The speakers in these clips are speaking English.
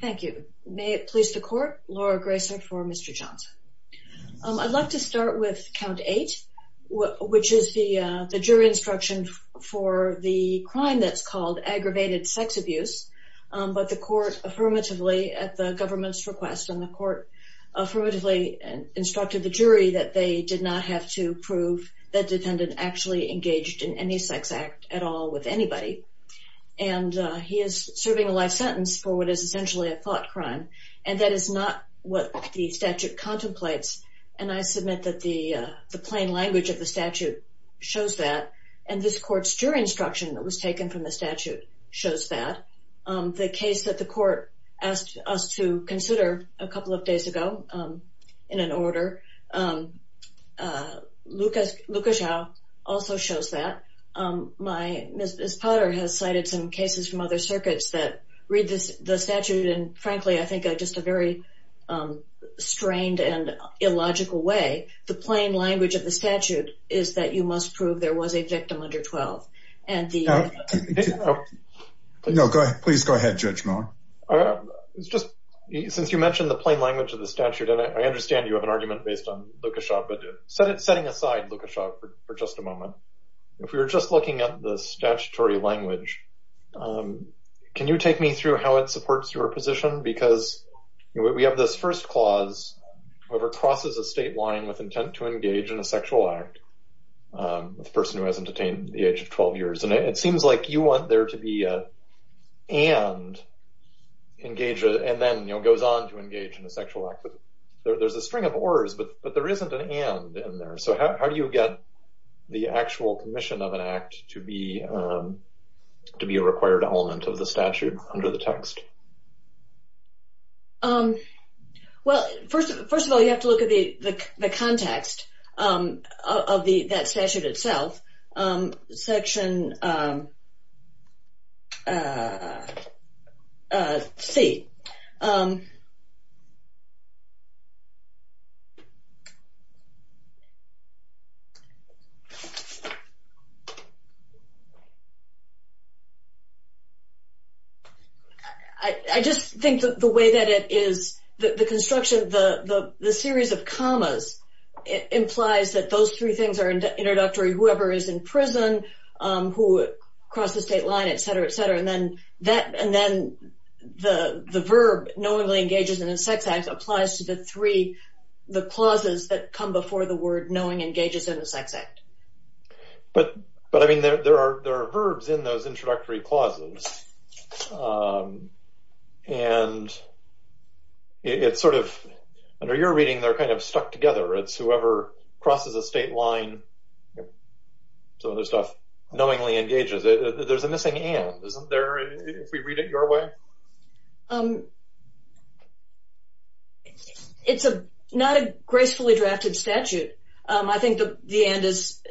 Thank you. May it please the court, Laura Gracer for Mr. Johnson. I'd like to start with count 8, which is the jury instruction for the crime that's called aggravated sex abuse. But the court affirmatively, at the government's request, and the court affirmatively instructed the jury that they did not have to prove that defendant actually engaged in any sex act at all with anybody. And he is serving a life sentence for what is essentially a thought crime. And that is not what the statute contemplates. And I submit that the plain language of the statute shows that. And this court's jury instruction that was taken from the statute shows that. The case that the court asked us to consider a couple of days ago in an order, Luca Xiao, also shows that. Ms. Potter has cited some cases from other circuits that read the statute in, frankly, I think, just a very strained and illogical way. The plain language of the statute is that you must prove there was a victim under 12. No, please go ahead, Judge Moore. It's just, since you mentioned the plain language of the statute, and I understand you have an argument based on Luca Xiao, but setting aside Luca Xiao for just a moment, if we were just looking at the statutory language, can you take me through how it supports your position? Because we have this first clause, whoever crosses a state line with intent to engage in a sexual act, the person who has entertained the age of 12 years. And it seems like you want there to be an and, and then goes on to engage in a sexual act. But there's a string of ors, but there isn't an and in there. So how do you get the actual commission of an act to be a required element of the statute under the text? Well, first of all, you have to look at the context of that statute itself. Section C. I just think the way that it is, the construction, the series of commas, it implies that those three things are introductory. Whoever is in prison, who crossed the state line, et cetera, et cetera. And then the verb knowingly engages in a sex act applies to the three, the clauses that come before the word knowing engages in a sex act. But I mean, there are verbs in those introductory clauses. And it's sort of, under your reading, they're kind of stuck together. It's whoever crosses a state line, some of the stuff, knowingly engages. There's a missing and, isn't there, if we read it your way? It's not a gracefully drafted statute. I think the end is,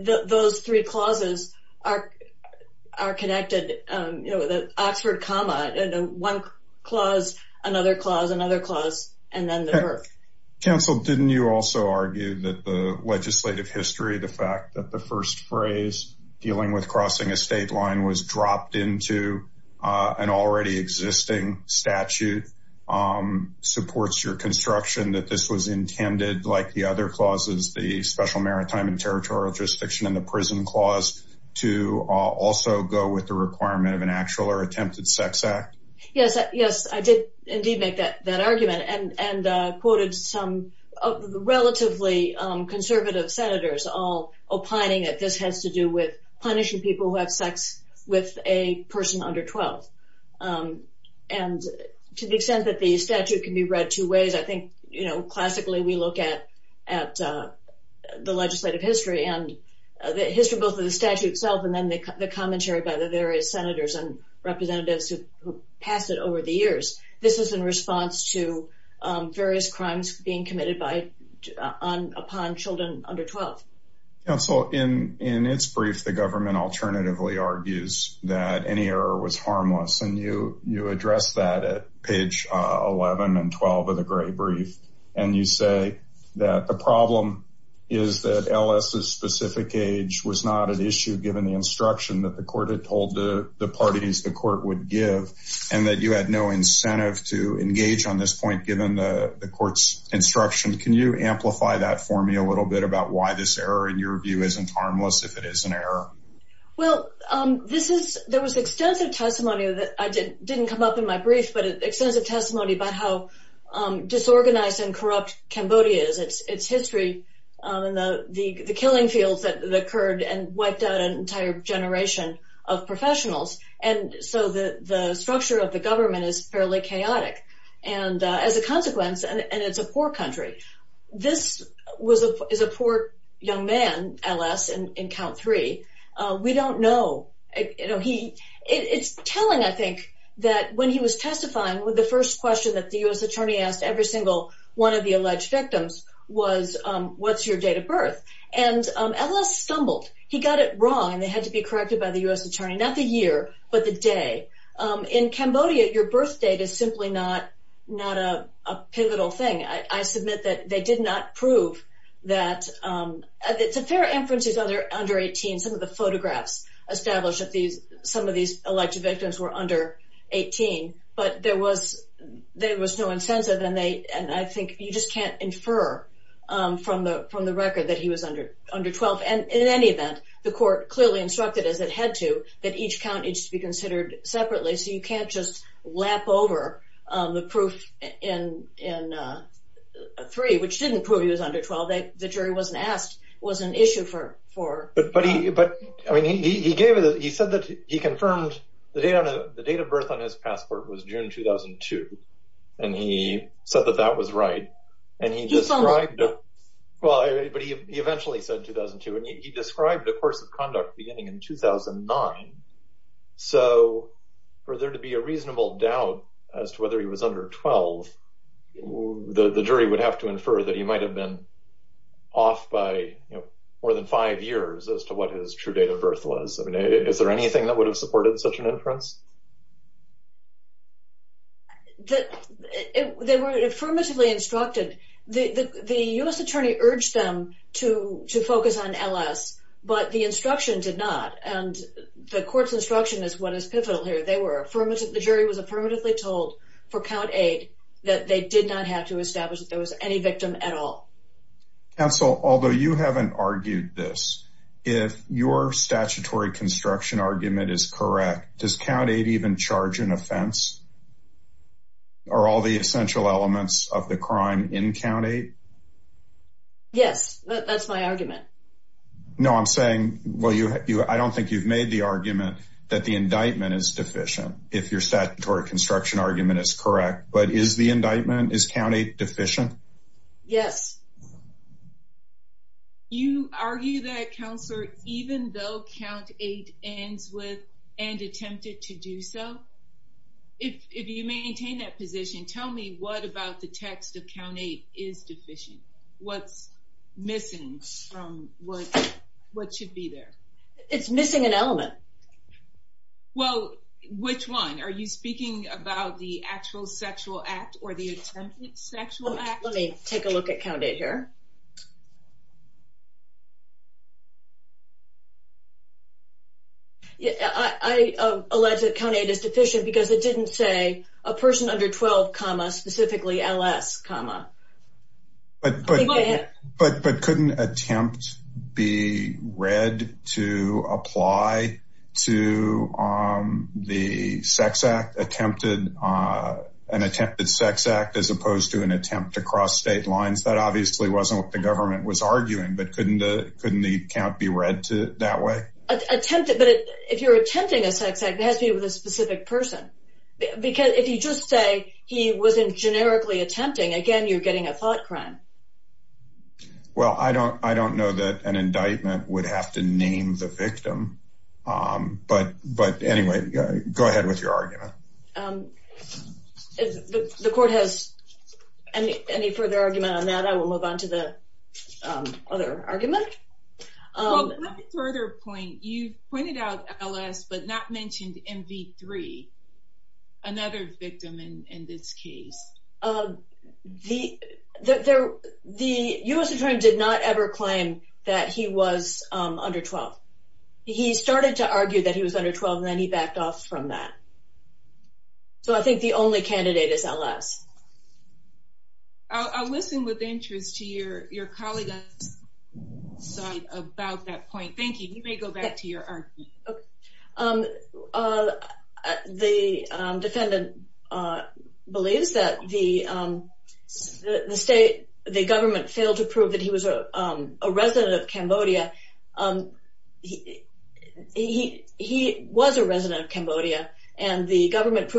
those three clauses are connected. You know, the Oxford comma, one clause, another clause, another clause, and then the verb. Council, didn't you also argue that the legislative history, the fact that the first phrase, dealing with crossing a state line, was dropped into an already existing statute, supports your construction that this was intended, like the other clauses, the special maritime and territorial jurisdiction and the prison clause, to also go with the requirement of an actual or attempted sex act? Yes, I did indeed make that argument and quoted some relatively conservative senators, all opining that this has to do with punishing people who have sex with a person under 12. And to the extent that the statute can be read two ways, I think classically we look at the legislative history and the history both of the statute itself and then the commentary by the various senators and representatives who passed it over the years. This is in response to various crimes being committed upon children under 12. Council, in its brief, the government alternatively argues that any error was harmless, and you address that at page 11 and 12 of the Gray Brief, and you say that the problem is that LS's specific age was not an issue given the instruction that the court had told the parties the court would give, and that you had no incentive to engage on this point given the court's instruction. Can you amplify that for me a little bit about why this error, in your view, isn't harmless if it is an error? Well, there was extensive testimony that didn't come up in my brief, but extensive testimony about how disorganized and corrupt Cambodia is, its history and the killing fields that occurred and wiped out an entire generation of professionals. So the structure of the government is fairly chaotic as a consequence, and it's a poor country. This is a poor young man, LS, in count three. We don't know. It's telling, I think, that when he was testifying, the first question that the U.S. attorney asked every single one of the alleged victims was, what's your date of birth? And LS stumbled. He got it wrong, and they had to be corrected by the U.S. attorney. Not the year, but the day. In Cambodia, your birth date is simply not a pivotal thing. I submit that they did not prove that. It's a fair inference he's under 18. Some of the photographs establish that some of these alleged victims were under 18, but there was no incentive, and I think you just can't infer from the record that he was under 12. And in any event, the court clearly instructed, as it had to, that each count needs to be considered separately, so you can't just lap over the proof in three, which didn't prove he was under 12. The jury wasn't asked. It was an issue for him. But he said that he confirmed the date of birth on his passport was June 2002, and he said that that was right. But he eventually said 2002, and he described the course of conduct beginning in 2009. So for there to be a reasonable doubt as to whether he was under 12, the jury would have to infer that he might have been off by more than five years as to what his true date of birth was. Is there anything that would have supported such an inference? They were affirmatively instructed. The U.S. attorney urged them to focus on L.S., but the instruction did not, and the court's instruction is what is pivotal here. The jury was affirmatively told for count 8 that they did not have to establish that there was any victim at all. Counsel, although you haven't argued this, if your statutory construction argument is correct, does count 8 even charge an offense? Are all the essential elements of the crime in count 8? Yes. That's my argument. No, I'm saying, well, I don't think you've made the argument that the indictment is deficient, if your statutory construction argument is correct. But is the indictment, is count 8 deficient? Yes. You argue that, Counselor, even though count 8 ends with, and attempted to do so, if you maintain that position, tell me what about the text of count 8 is deficient? What's missing from what should be there? It's missing an element. Well, which one? Are you speaking about the actual sexual act or the attempted sexual act? Let me take a look at count 8 here. I allege that count 8 is deficient because it didn't say, a person under 12 comma, specifically LS comma. But couldn't attempt be read to apply to the sex act attempted, an attempted sex act as opposed to an attempt to cross state lines? That obviously wasn't what the government was arguing, but couldn't the count be read that way? Attempted, but if you're attempting a sex act, it has to be with a specific person. Because if you just say, he was generically attempting, again, you're getting a thought crime. Well, I don't know that an indictment would have to name the victim. But anyway, go ahead with your argument. If the court has any further argument on that, I will move on to the other argument. Well, let me further point, you pointed out LS, but not mentioned MV3, another victim in this case. The U.S. attorney did not ever claim that he was under 12. He started to argue that he was under 12, and then he backed off from that. So I think the only candidate is LS. I'll listen with interest to your colleague's side about that point. Thank you. You may go back to your argument. The defendant believes that the state, the government, failed to prove that he was a resident of Cambodia. He was a resident of Cambodia, and the government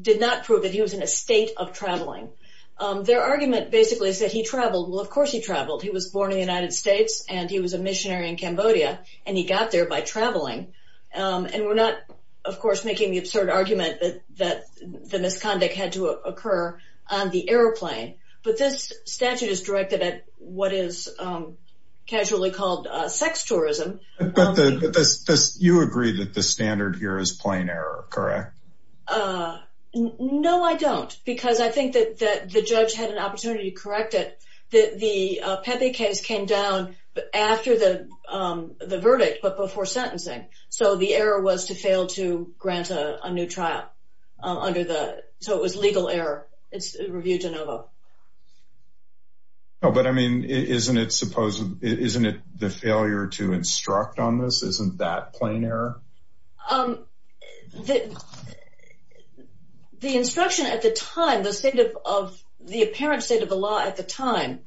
did not prove that he was in a state of traveling. Their argument basically is that he traveled. Well, of course he traveled. He was born in the United States, and he was a missionary in Cambodia, and he got there by traveling. And we're not, of course, making the absurd argument that the misconduct had to occur on the airplane. But this statute is directed at what is casually called sex tourism. But you agree that the standard here is plain error, correct? No, I don't, because I think that the judge had an opportunity to correct it. The Pepe case came down after the verdict, but before sentencing. So the error was to fail to grant a new trial. So it was legal error. It's review de novo. But, I mean, isn't it the failure to instruct on this? Isn't that plain error? The instruction at the time, the state of the apparent state of the law at the time,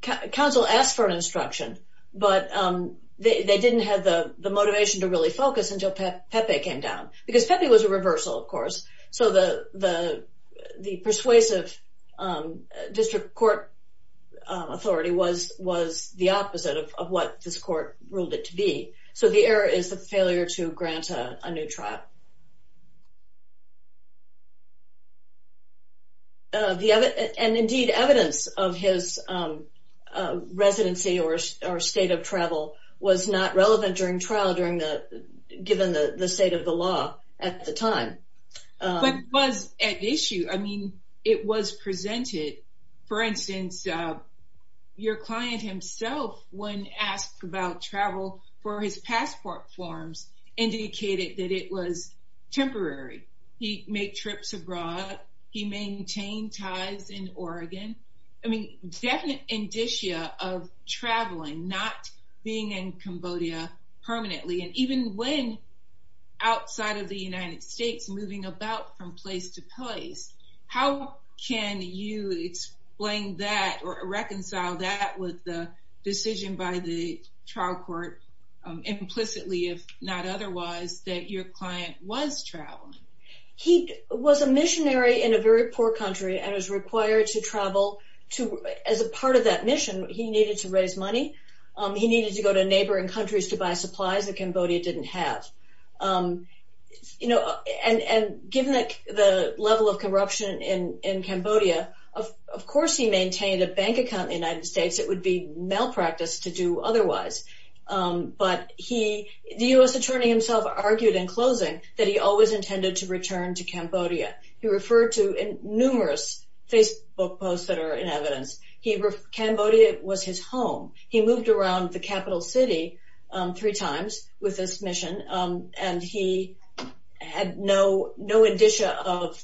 counsel asked for an instruction, but they didn't have the motivation to really focus until Pepe came down. Because Pepe was a reversal, of course. So the persuasive district court authority was the opposite of what this court ruled it to be. So the error is the failure to grant a new trial. And, indeed, evidence of his residency or state of travel was not relevant during trial, given the state of the law at the time. But it was at issue. I mean, it was presented. For instance, your client himself, when asked about travel for his passport forms, indicated that it was temporary. He made trips abroad. He maintained ties in Oregon. I mean, definite indicia of traveling, not being in Cambodia permanently. And even when outside of the United States, moving about from place to place, how can you explain that or reconcile that with the decision by the trial court, implicitly, if not otherwise, that your client was traveling? He was a missionary in a very poor country and was required to travel. As a part of that mission, he needed to raise money. He needed to go to neighboring countries to buy supplies that Cambodia didn't have. You know, and given the level of corruption in Cambodia, of course he maintained a bank account in the United States. It would be malpractice to do otherwise. But the U.S. attorney himself argued in closing that he always intended to return to Cambodia. He referred to numerous Facebook posts that are in evidence. Cambodia was his home. He moved around the capital city three times with this mission, and he had no indicia of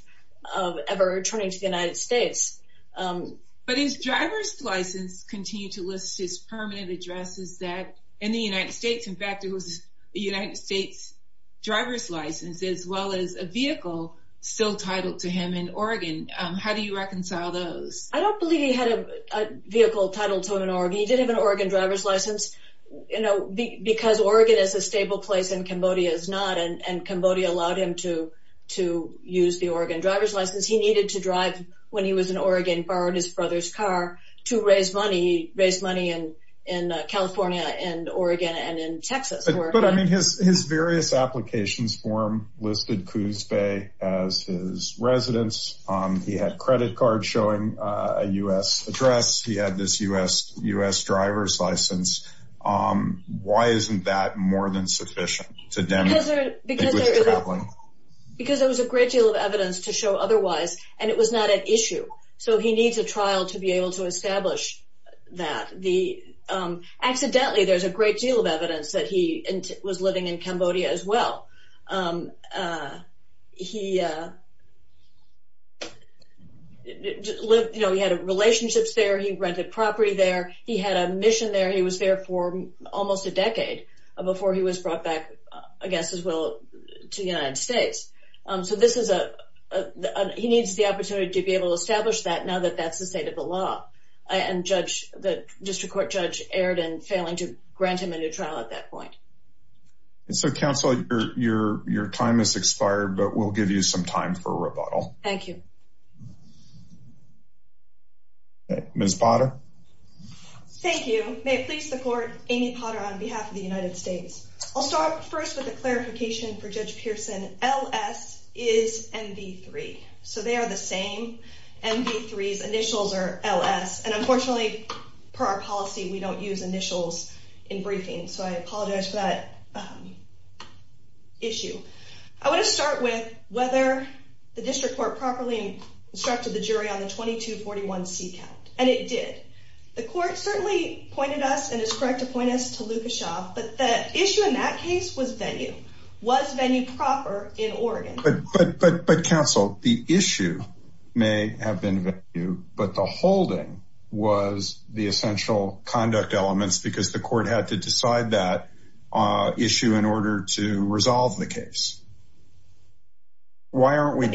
ever returning to the United States. But his driver's license continued to list his permanent addresses in the United States. In fact, it was a United States driver's license as well as a vehicle still titled to him in Oregon. How do you reconcile those? I don't believe he had a vehicle titled to him in Oregon. He did have an Oregon driver's license. You know, because Oregon is a stable place and Cambodia is not, and Cambodia allowed him to use the Oregon driver's license, he needed to drive when he was in Oregon, borrowed his brother's car to raise money. He raised money in California and Oregon and in Texas. But, I mean, his various applications form listed Coos Bay as his residence. He had credit cards showing a U.S. address. He had this U.S. driver's license. Why isn't that more than sufficient to demonstrate he was traveling? Because there was a great deal of evidence to show otherwise, and it was not an issue. So he needs a trial to be able to establish that. Accidentally, there's a great deal of evidence that he was living in Cambodia as well. He had relationships there. He rented property there. He had a mission there. He was there for almost a decade before he was brought back, I guess as well, to the United States. So he needs the opportunity to be able to establish that now that that's the state of the law, and the district court judge erred in failing to grant him a new trial at that point. So, counsel, your time has expired, but we'll give you some time for rebuttal. Thank you. Ms. Potter? Thank you. May it please the court, Amy Potter on behalf of the United States. I'll start first with a clarification for Judge Pearson. L.S. is MV3, so they are the same. MV3's initials are L.S., and unfortunately, per our policy, we don't use initials in briefings. So I apologize for that issue. I want to start with whether the district court properly instructed the jury on the 2241C count, and it did. The court certainly pointed us and is correct to point us to Lukashoff, but the issue in that case was venue. Was venue proper in Oregon? But, counsel, the issue may have been venue, but the holding was the essential conduct elements because the court had to decide that issue in order to resolve the case. Why aren't we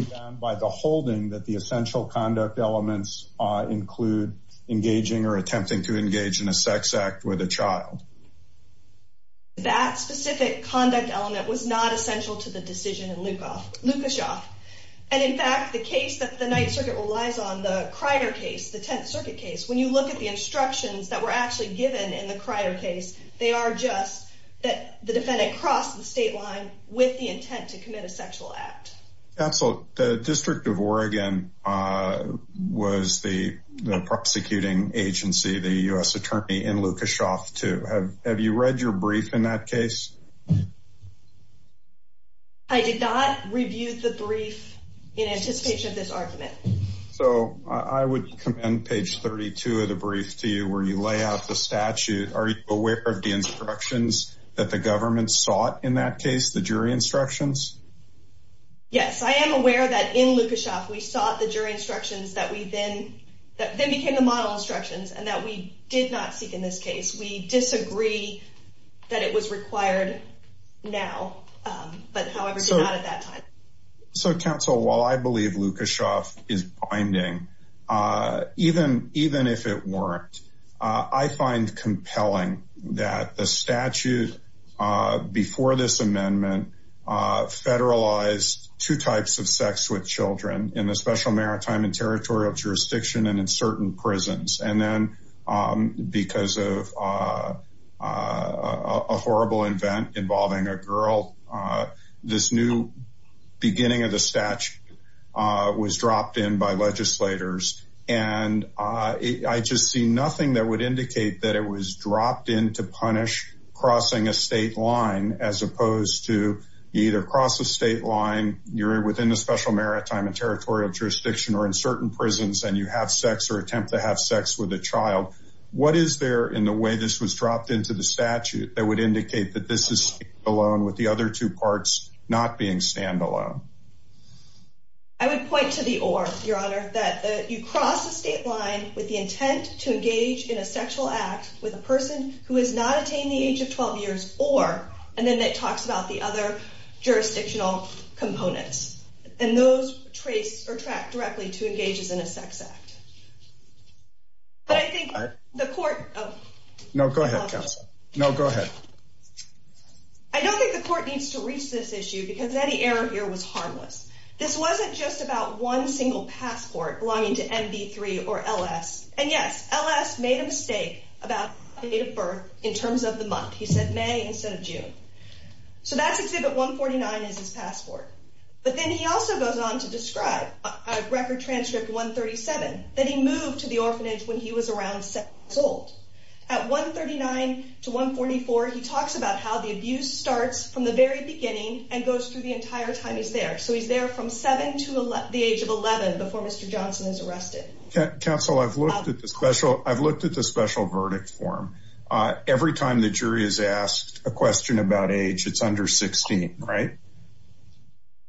bound by the holding that the essential conduct elements include engaging or attempting to engage in a sex act with a child? That specific conduct element was not essential to the decision in Lukashoff. And, in fact, the case that the Ninth Circuit relies on, the Crider case, the Tenth Circuit case, when you look at the instructions that were actually given in the Crider case, they are just that the defendant crossed the state line with the intent to commit a sexual act. Counsel, the District of Oregon was the prosecuting agency, the U.S. Attorney, in Lukashoff, too. Have you read your brief in that case? I did not review the brief in anticipation of this argument. So, I would commend page 32 of the brief to you where you lay out the statute. Are you aware of the instructions that the government sought in that case, the jury instructions? Yes, I am aware that in Lukashoff, we sought the jury instructions that then became the model instructions and that we did not seek in this case. We disagree that it was required now, but however, not at that time. So, counsel, while I believe Lukashoff is binding, even if it weren't, I find compelling that the statute before this amendment federalized two types of sex with children in the Special Maritime and Territorial Jurisdiction and in certain prisons. And then, because of a horrible event involving a girl, this new beginning of the statute was dropped in by legislators. And I just see nothing that would indicate that it was dropped in to punish crossing a state line, as opposed to you either cross a state line, you're within the Special Maritime and Territorial Jurisdiction, or in certain prisons and you have sex or attempt to have sex with a child. What is there in the way this was dropped into the statute that would indicate that this is alone with the other two parts not being standalone? I would point to the or, Your Honor, that you cross the state line with the intent to engage in a sexual act with a person who has not attained the age of 12 years, or, and then it talks about the other jurisdictional components. And those trace or track directly to engages in a sex act. But I think the court... No, go ahead, counsel. No, go ahead. I don't think the court needs to reach this issue because any error here was harmless. This wasn't just about one single passport belonging to MB3 or LS. And yes, LS made a mistake about the date of birth in terms of the month. He said May instead of June. So that's Exhibit 149 is his passport. But then he also goes on to describe Record Transcript 137 that he moved to the orphanage when he was around six years old. At 139 to 144, he talks about how the abuse starts from the very beginning and goes through the entire time he's there. So he's there from seven to the age of 11 before Mr. Johnson is arrested. Counsel, I've looked at the special verdict form. Every time the jury is asked a question about age, it's under 16, right?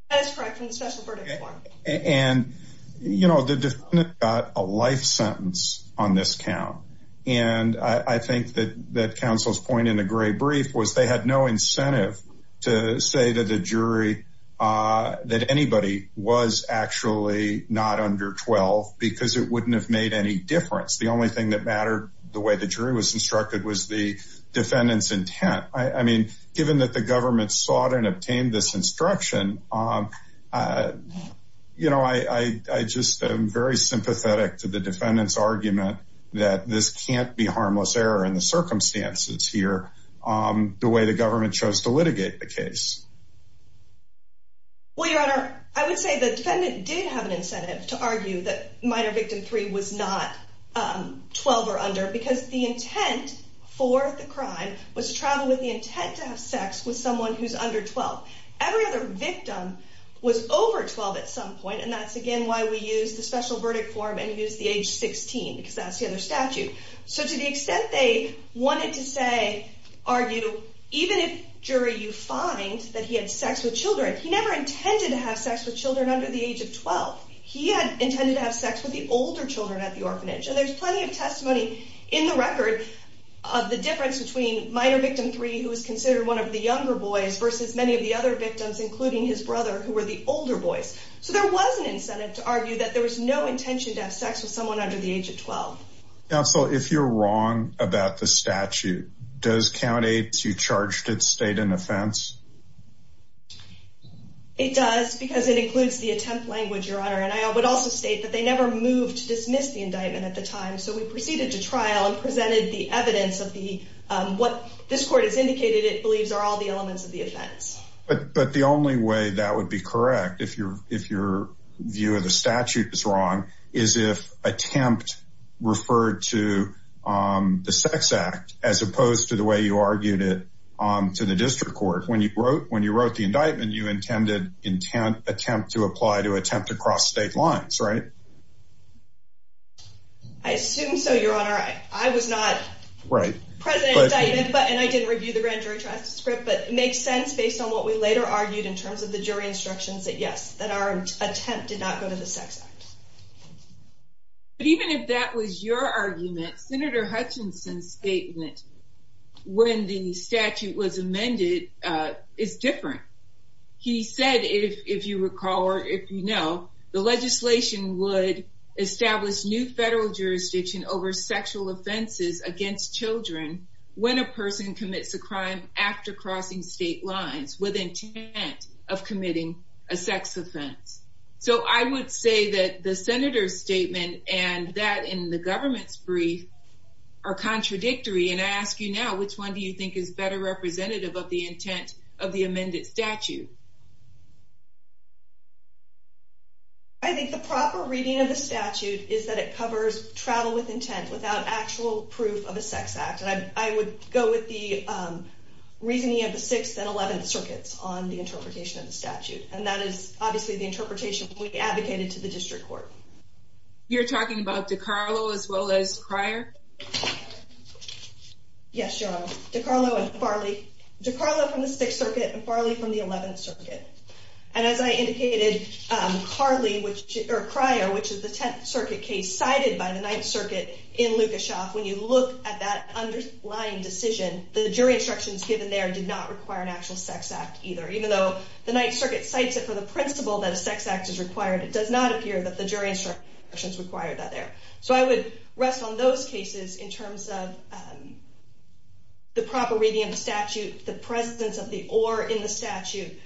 That is correct for the special verdict form. And, you know, the defendant got a life sentence on this count. And I think that counsel's point in the gray brief was they had no incentive to say to the jury that anybody was actually not under 12 because it wouldn't have made any difference. The only thing that mattered, the way the jury was instructed, was the defendant's intent. I mean, given that the government sought and obtained this instruction, you know, I just am very sympathetic to the defendant's argument that this can't be harmless error in the circumstances here the way the government chose to litigate the case. Well, Your Honor, I would say the defendant did have an incentive to argue that minor victim three was not 12 or under because the intent for the crime was to travel with the intent to have sex with someone who's under 12. Every other victim was over 12 at some point. And that's, again, why we use the special verdict form and use the age 16 because that's the other statute. So to the extent they wanted to say, argue, even if, jury, you find that he had sex with children, he never intended to have sex with children under the age of 12. He had intended to have sex with the older children at the orphanage. And there's plenty of testimony in the record of the difference between minor victim three who was considered one of the younger boys versus many of the other victims, including his brother, who were the older boys. So there was an incentive to argue that there was no intention to have sex with someone under the age of 12. Counsel, if you're wrong about the statute, does count eight to charge to state an offense? It does, because it includes the attempt language, Your Honor. And I would also state that they never moved to dismiss the indictment at the time. So we proceeded to trial and presented the evidence of the what this court has indicated it believes are all the elements of the offense. But but the only way that would be correct, if you're if your view of the statute is wrong, is if attempt referred to the sex act as opposed to the way you argued it to the district court. When you wrote when you wrote the indictment, you intended intent attempt to apply to attempt to cross state lines. Right. I assume so. Your Honor, I was not right president. But and I didn't review the grand jury transcript, but it makes sense based on what we later argued in terms of the jury instructions that yes, that our attempt did not go to the sex act. But even if that was your argument, Senator Hutchinson's statement when the statute was amended is different. He said, if you recall, or if you know, the legislation would establish new federal jurisdiction over sexual offenses against children when a person commits a crime after crossing state lines with intent of committing a sex offense. So I would say that the senator's statement and that in the government's brief are contradictory. And I ask you now, which one do you think is better representative of the intent of the amended statute? I think the proper reading of the statute is that it covers travel with intent without actual proof of a sex act. And I would go with the reasoning of the 6th and 11th circuits on the interpretation of the statute. And that is obviously the interpretation we advocated to the district court. You're talking about DiCarlo as well as Cryer? Yes, Your Honor. DiCarlo and Farley. DiCarlo from the 6th circuit and Farley from the 11th circuit. And as I indicated, Cryer, which is the 10th circuit case cited by the 9th circuit in Lukashoff, when you look at that underlying decision, the jury instructions given there did not require an actual sex act either. Even though the 9th circuit cites it for the principle that a sex act is required, it does not appear that the jury instructions require that there. So I would rest on those cases in terms of the proper reading of the statute, the presence of the or in the statute.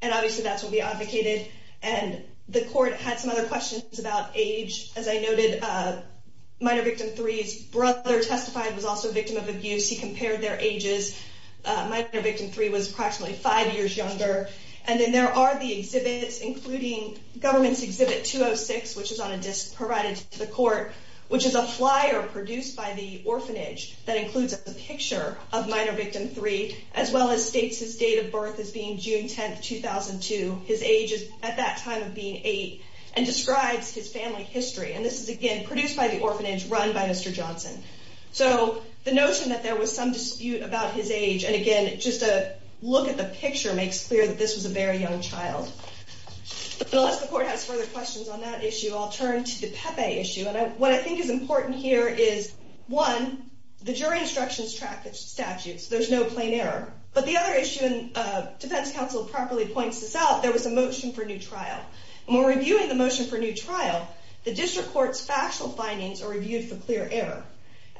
And obviously that's what we advocated. And the court had some other questions about age. As I noted, minor victim 3's brother testified was also a victim of abuse. He compared their ages. Minor victim 3 was approximately 5 years younger. And then there are the exhibits, including government's exhibit 206, which is on a disc provided to the court, which is a flyer produced by the orphanage that includes a picture of minor victim 3, as well as states his date of birth as being June 10th, 2002. His age at that time of being 8 and describes his family history. And this is, again, produced by the orphanage run by Mr. Johnson. So the notion that there was some dispute about his age, and again, just a look at the picture makes clear that this was a very young child. Unless the court has further questions on that issue, I'll turn to the Pepe issue. And what I think is important here is, one, the jury instructions track the statutes. There's no plain error. But the other issue, and defense counsel properly points this out, there was a motion for new trial. More reviewing the motion for new trial, the district court's factual findings are reviewed for clear error.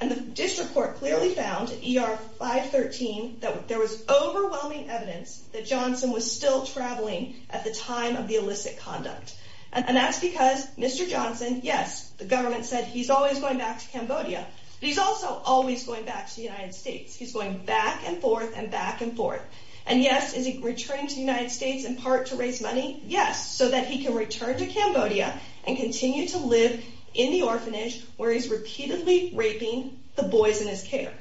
And the district court clearly found ER 513 that there was overwhelming evidence that Johnson was still traveling at the time of the illicit conduct. And that's because Mr. Johnson, yes, the government said he's always going back to Cambodia. He's also always going back to the United States. He's going back and forth and back and forth. And yes, is he returning to the United States in part to raise money? Yes, so that he can return to Cambodia and continue to live in the orphanage where he's repeatedly raping the boys in his care.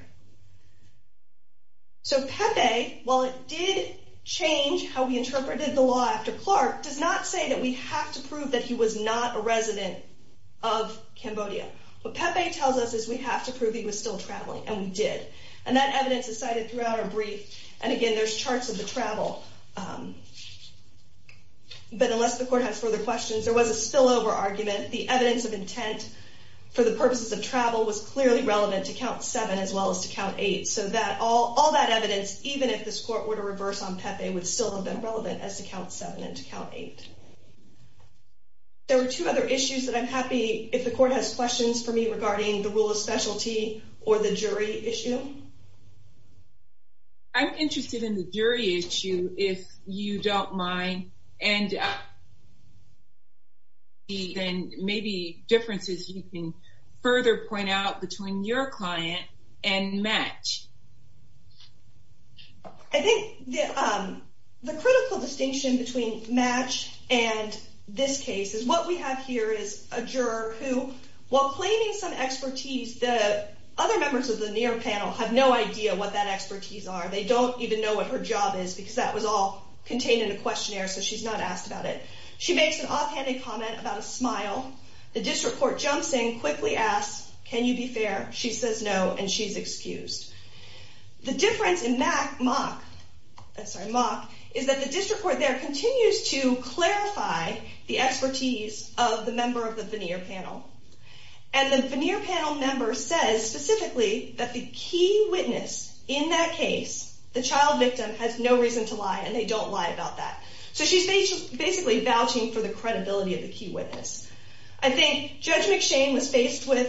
So Pepe, while it did change how we interpreted the law after Clark, does not say that we have to prove that he was not a resident of Cambodia. What Pepe tells us is we have to prove he was still traveling, and we did. And that evidence is cited throughout our brief. And again, there's charts of the travel. But unless the court has further questions, there was a spillover argument. The evidence of intent for the purposes of travel was clearly relevant to Count 7 as well as to Count 8. So all that evidence, even if this court were to reverse on Pepe, would still have been relevant as to Count 7 and to Count 8. There are two other issues that I'm happy if the court has questions for me regarding the rule of specialty or the jury issue. I'm interested in the jury issue if you don't mind. And maybe differences you can further point out between your client and Match. I think the critical distinction between Match and this case is what we have here is a juror who, while claiming some expertise, the other members of the near panel have no idea what that expertise are. They don't even know what her job is because that was all contained in a questionnaire, so she's not asked about it. She makes an offhanded comment about a smile. The district court jumps in, quickly asks, can you be fair? She says no, and she's excused. The difference in Mach is that the district court there continues to clarify the expertise of the member of the veneer panel. And the veneer panel member says specifically that the key witness in that case, the child victim, has no reason to lie, and they don't lie about that. So she's basically vouching for the credibility of the key witness. I think Judge McShane was faced with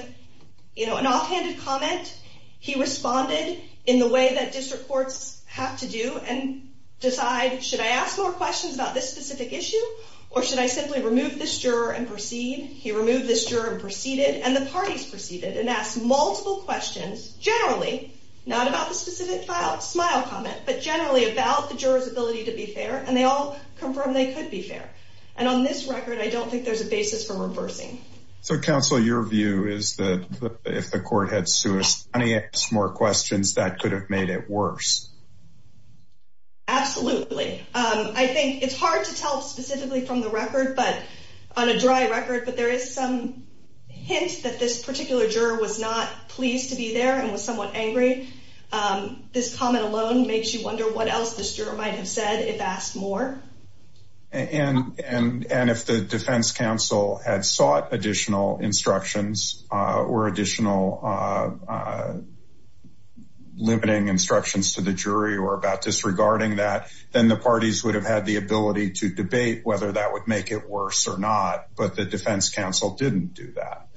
an offhanded comment. He responded in the way that district courts have to do and decide, should I ask more questions about this specific issue, or should I simply remove this juror and proceed? He removed this juror and proceeded, and the parties proceeded and asked multiple questions, generally not about the specific smile comment, but generally about the juror's ability to be fair, and they all confirmed they could be fair. And on this record, I don't think there's a basis for reversing. So, counsel, your view is that if the court had sued us and asked more questions, that could have made it worse. Absolutely. I think it's hard to tell specifically from the record, but on a dry record, but there is some hint that this particular juror was not pleased to be there and was somewhat angry. This comment alone makes you wonder what else this juror might have said if asked more. And if the defense counsel had sought additional instructions or additional limiting instructions to the jury or about disregarding that, then the parties would have had the ability to debate whether that would make it worse or not. But the defense counsel didn't do that.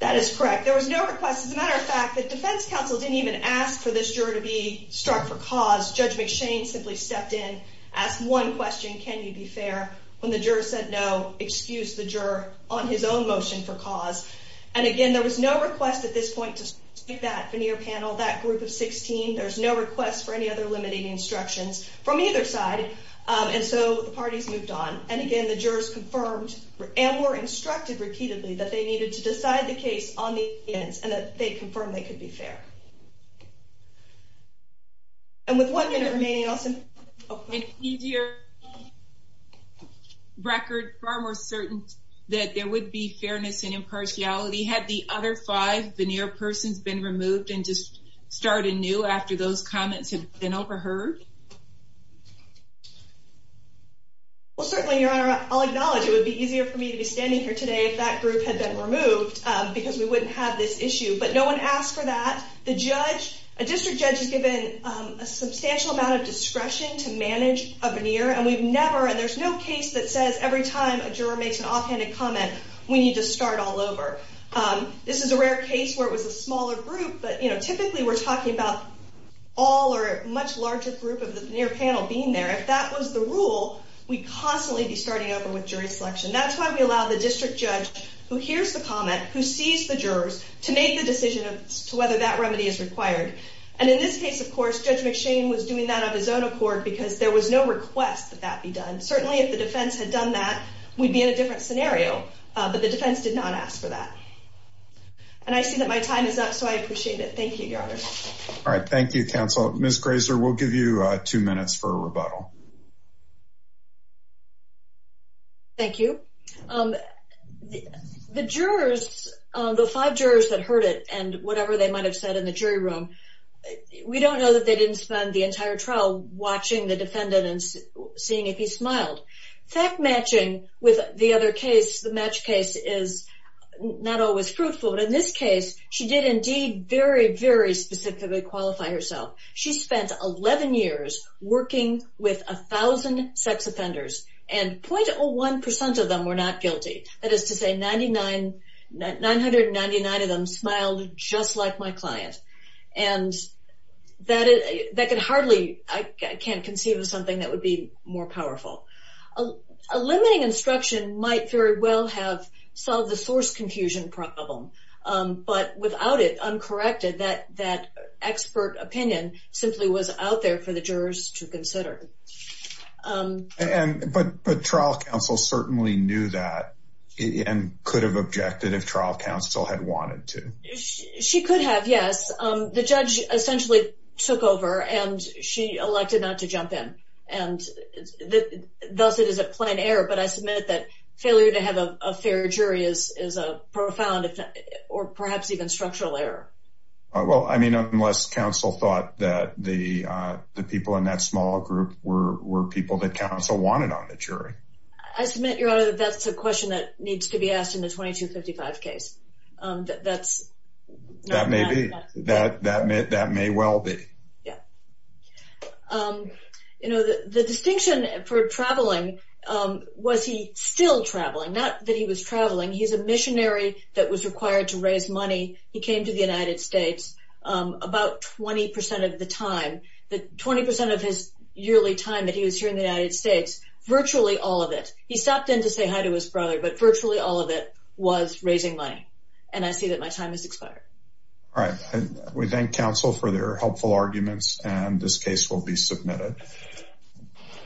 That is correct. There was no request. As a matter of fact, the defense counsel didn't even ask for this juror to be struck for cause. Judge McShane simply stepped in, asked one question, can you be fair? When the juror said no, excused the juror on his own motion for cause. And again, there was no request at this point to speak to that veneer panel, that group of 16. There's no request for any other limiting instructions from either side. And so the parties moved on. And again, the jurors confirmed and were instructed repeatedly that they needed to decide the case on the evidence and that they confirmed they could be fair. And with one minute remaining, I'll send... An easier record, far more certain that there would be fairness and impartiality had the other five veneer persons been removed and just started new after those comments had been overheard? Well, certainly, Your Honor, I'll acknowledge it would be easier for me to be standing here today if that group had been removed, because we wouldn't have this issue. But no one asked for that. The judge... A district judge is given a substantial amount of discretion to manage a veneer. And we've never... And there's no case that says every time a juror makes an offhanded comment, we need to start all over. This is a rare case where it was a smaller group. But typically, we're talking about all or a much larger group of the veneer panel being there. If that was the rule, we'd constantly be starting over with jury selection. That's why we allow the district judge who hears the comment, who sees the jurors, to make the decision as to whether that remedy is required. And in this case, of course, Judge McShane was doing that on his own accord because there was no request that that be done. Certainly, if the defense had done that, we'd be in a different scenario. But the defense did not ask for that. And I see that my time is up, so I appreciate it. Thank you, Your Honor. All right. Thank you, counsel. Ms. Grazer, we'll give you two minutes for a rebuttal. Thank you. The jurors, the five jurors that heard it and whatever they might have said in the jury room, we don't know that they didn't spend the entire trial watching the defendant and seeing if he smiled. Fact matching with the other case, the match case, is not always fruitful. But in this case, she did indeed very, very specifically qualify herself. She spent 11 years working with 1,000 sex offenders, and 0.01% of them were not guilty. That is to say, 999 of them smiled just like my client. And that could hardly, I can't conceive of something that would be more powerful. A limiting instruction might very well have solved the source confusion problem. But without it uncorrected, that expert opinion simply was out there for the jurors to consider. But trial counsel certainly knew that and could have objected if trial counsel had wanted to. She could have, yes. The judge essentially took over, and she elected not to jump in. Thus, it is a plain error, but I submit that failure to have a fair jury is a profound or perhaps even structural error. Well, I mean, unless counsel thought that the people in that small group were people that counsel wanted on the jury. I submit, Your Honor, that that's a question that needs to be asked in the 2255 case. That may well be. Yeah. You know, the distinction for traveling was he still traveling, not that he was traveling. He's a missionary that was required to raise money. He came to the United States about 20% of the time, 20% of his yearly time that he was here in the United States. Virtually all of it. He stopped in to say hi to his brother, but virtually all of it was raising money. And I see that my time has expired. All right. We thank counsel for their helpful arguments, and this case will be submitted.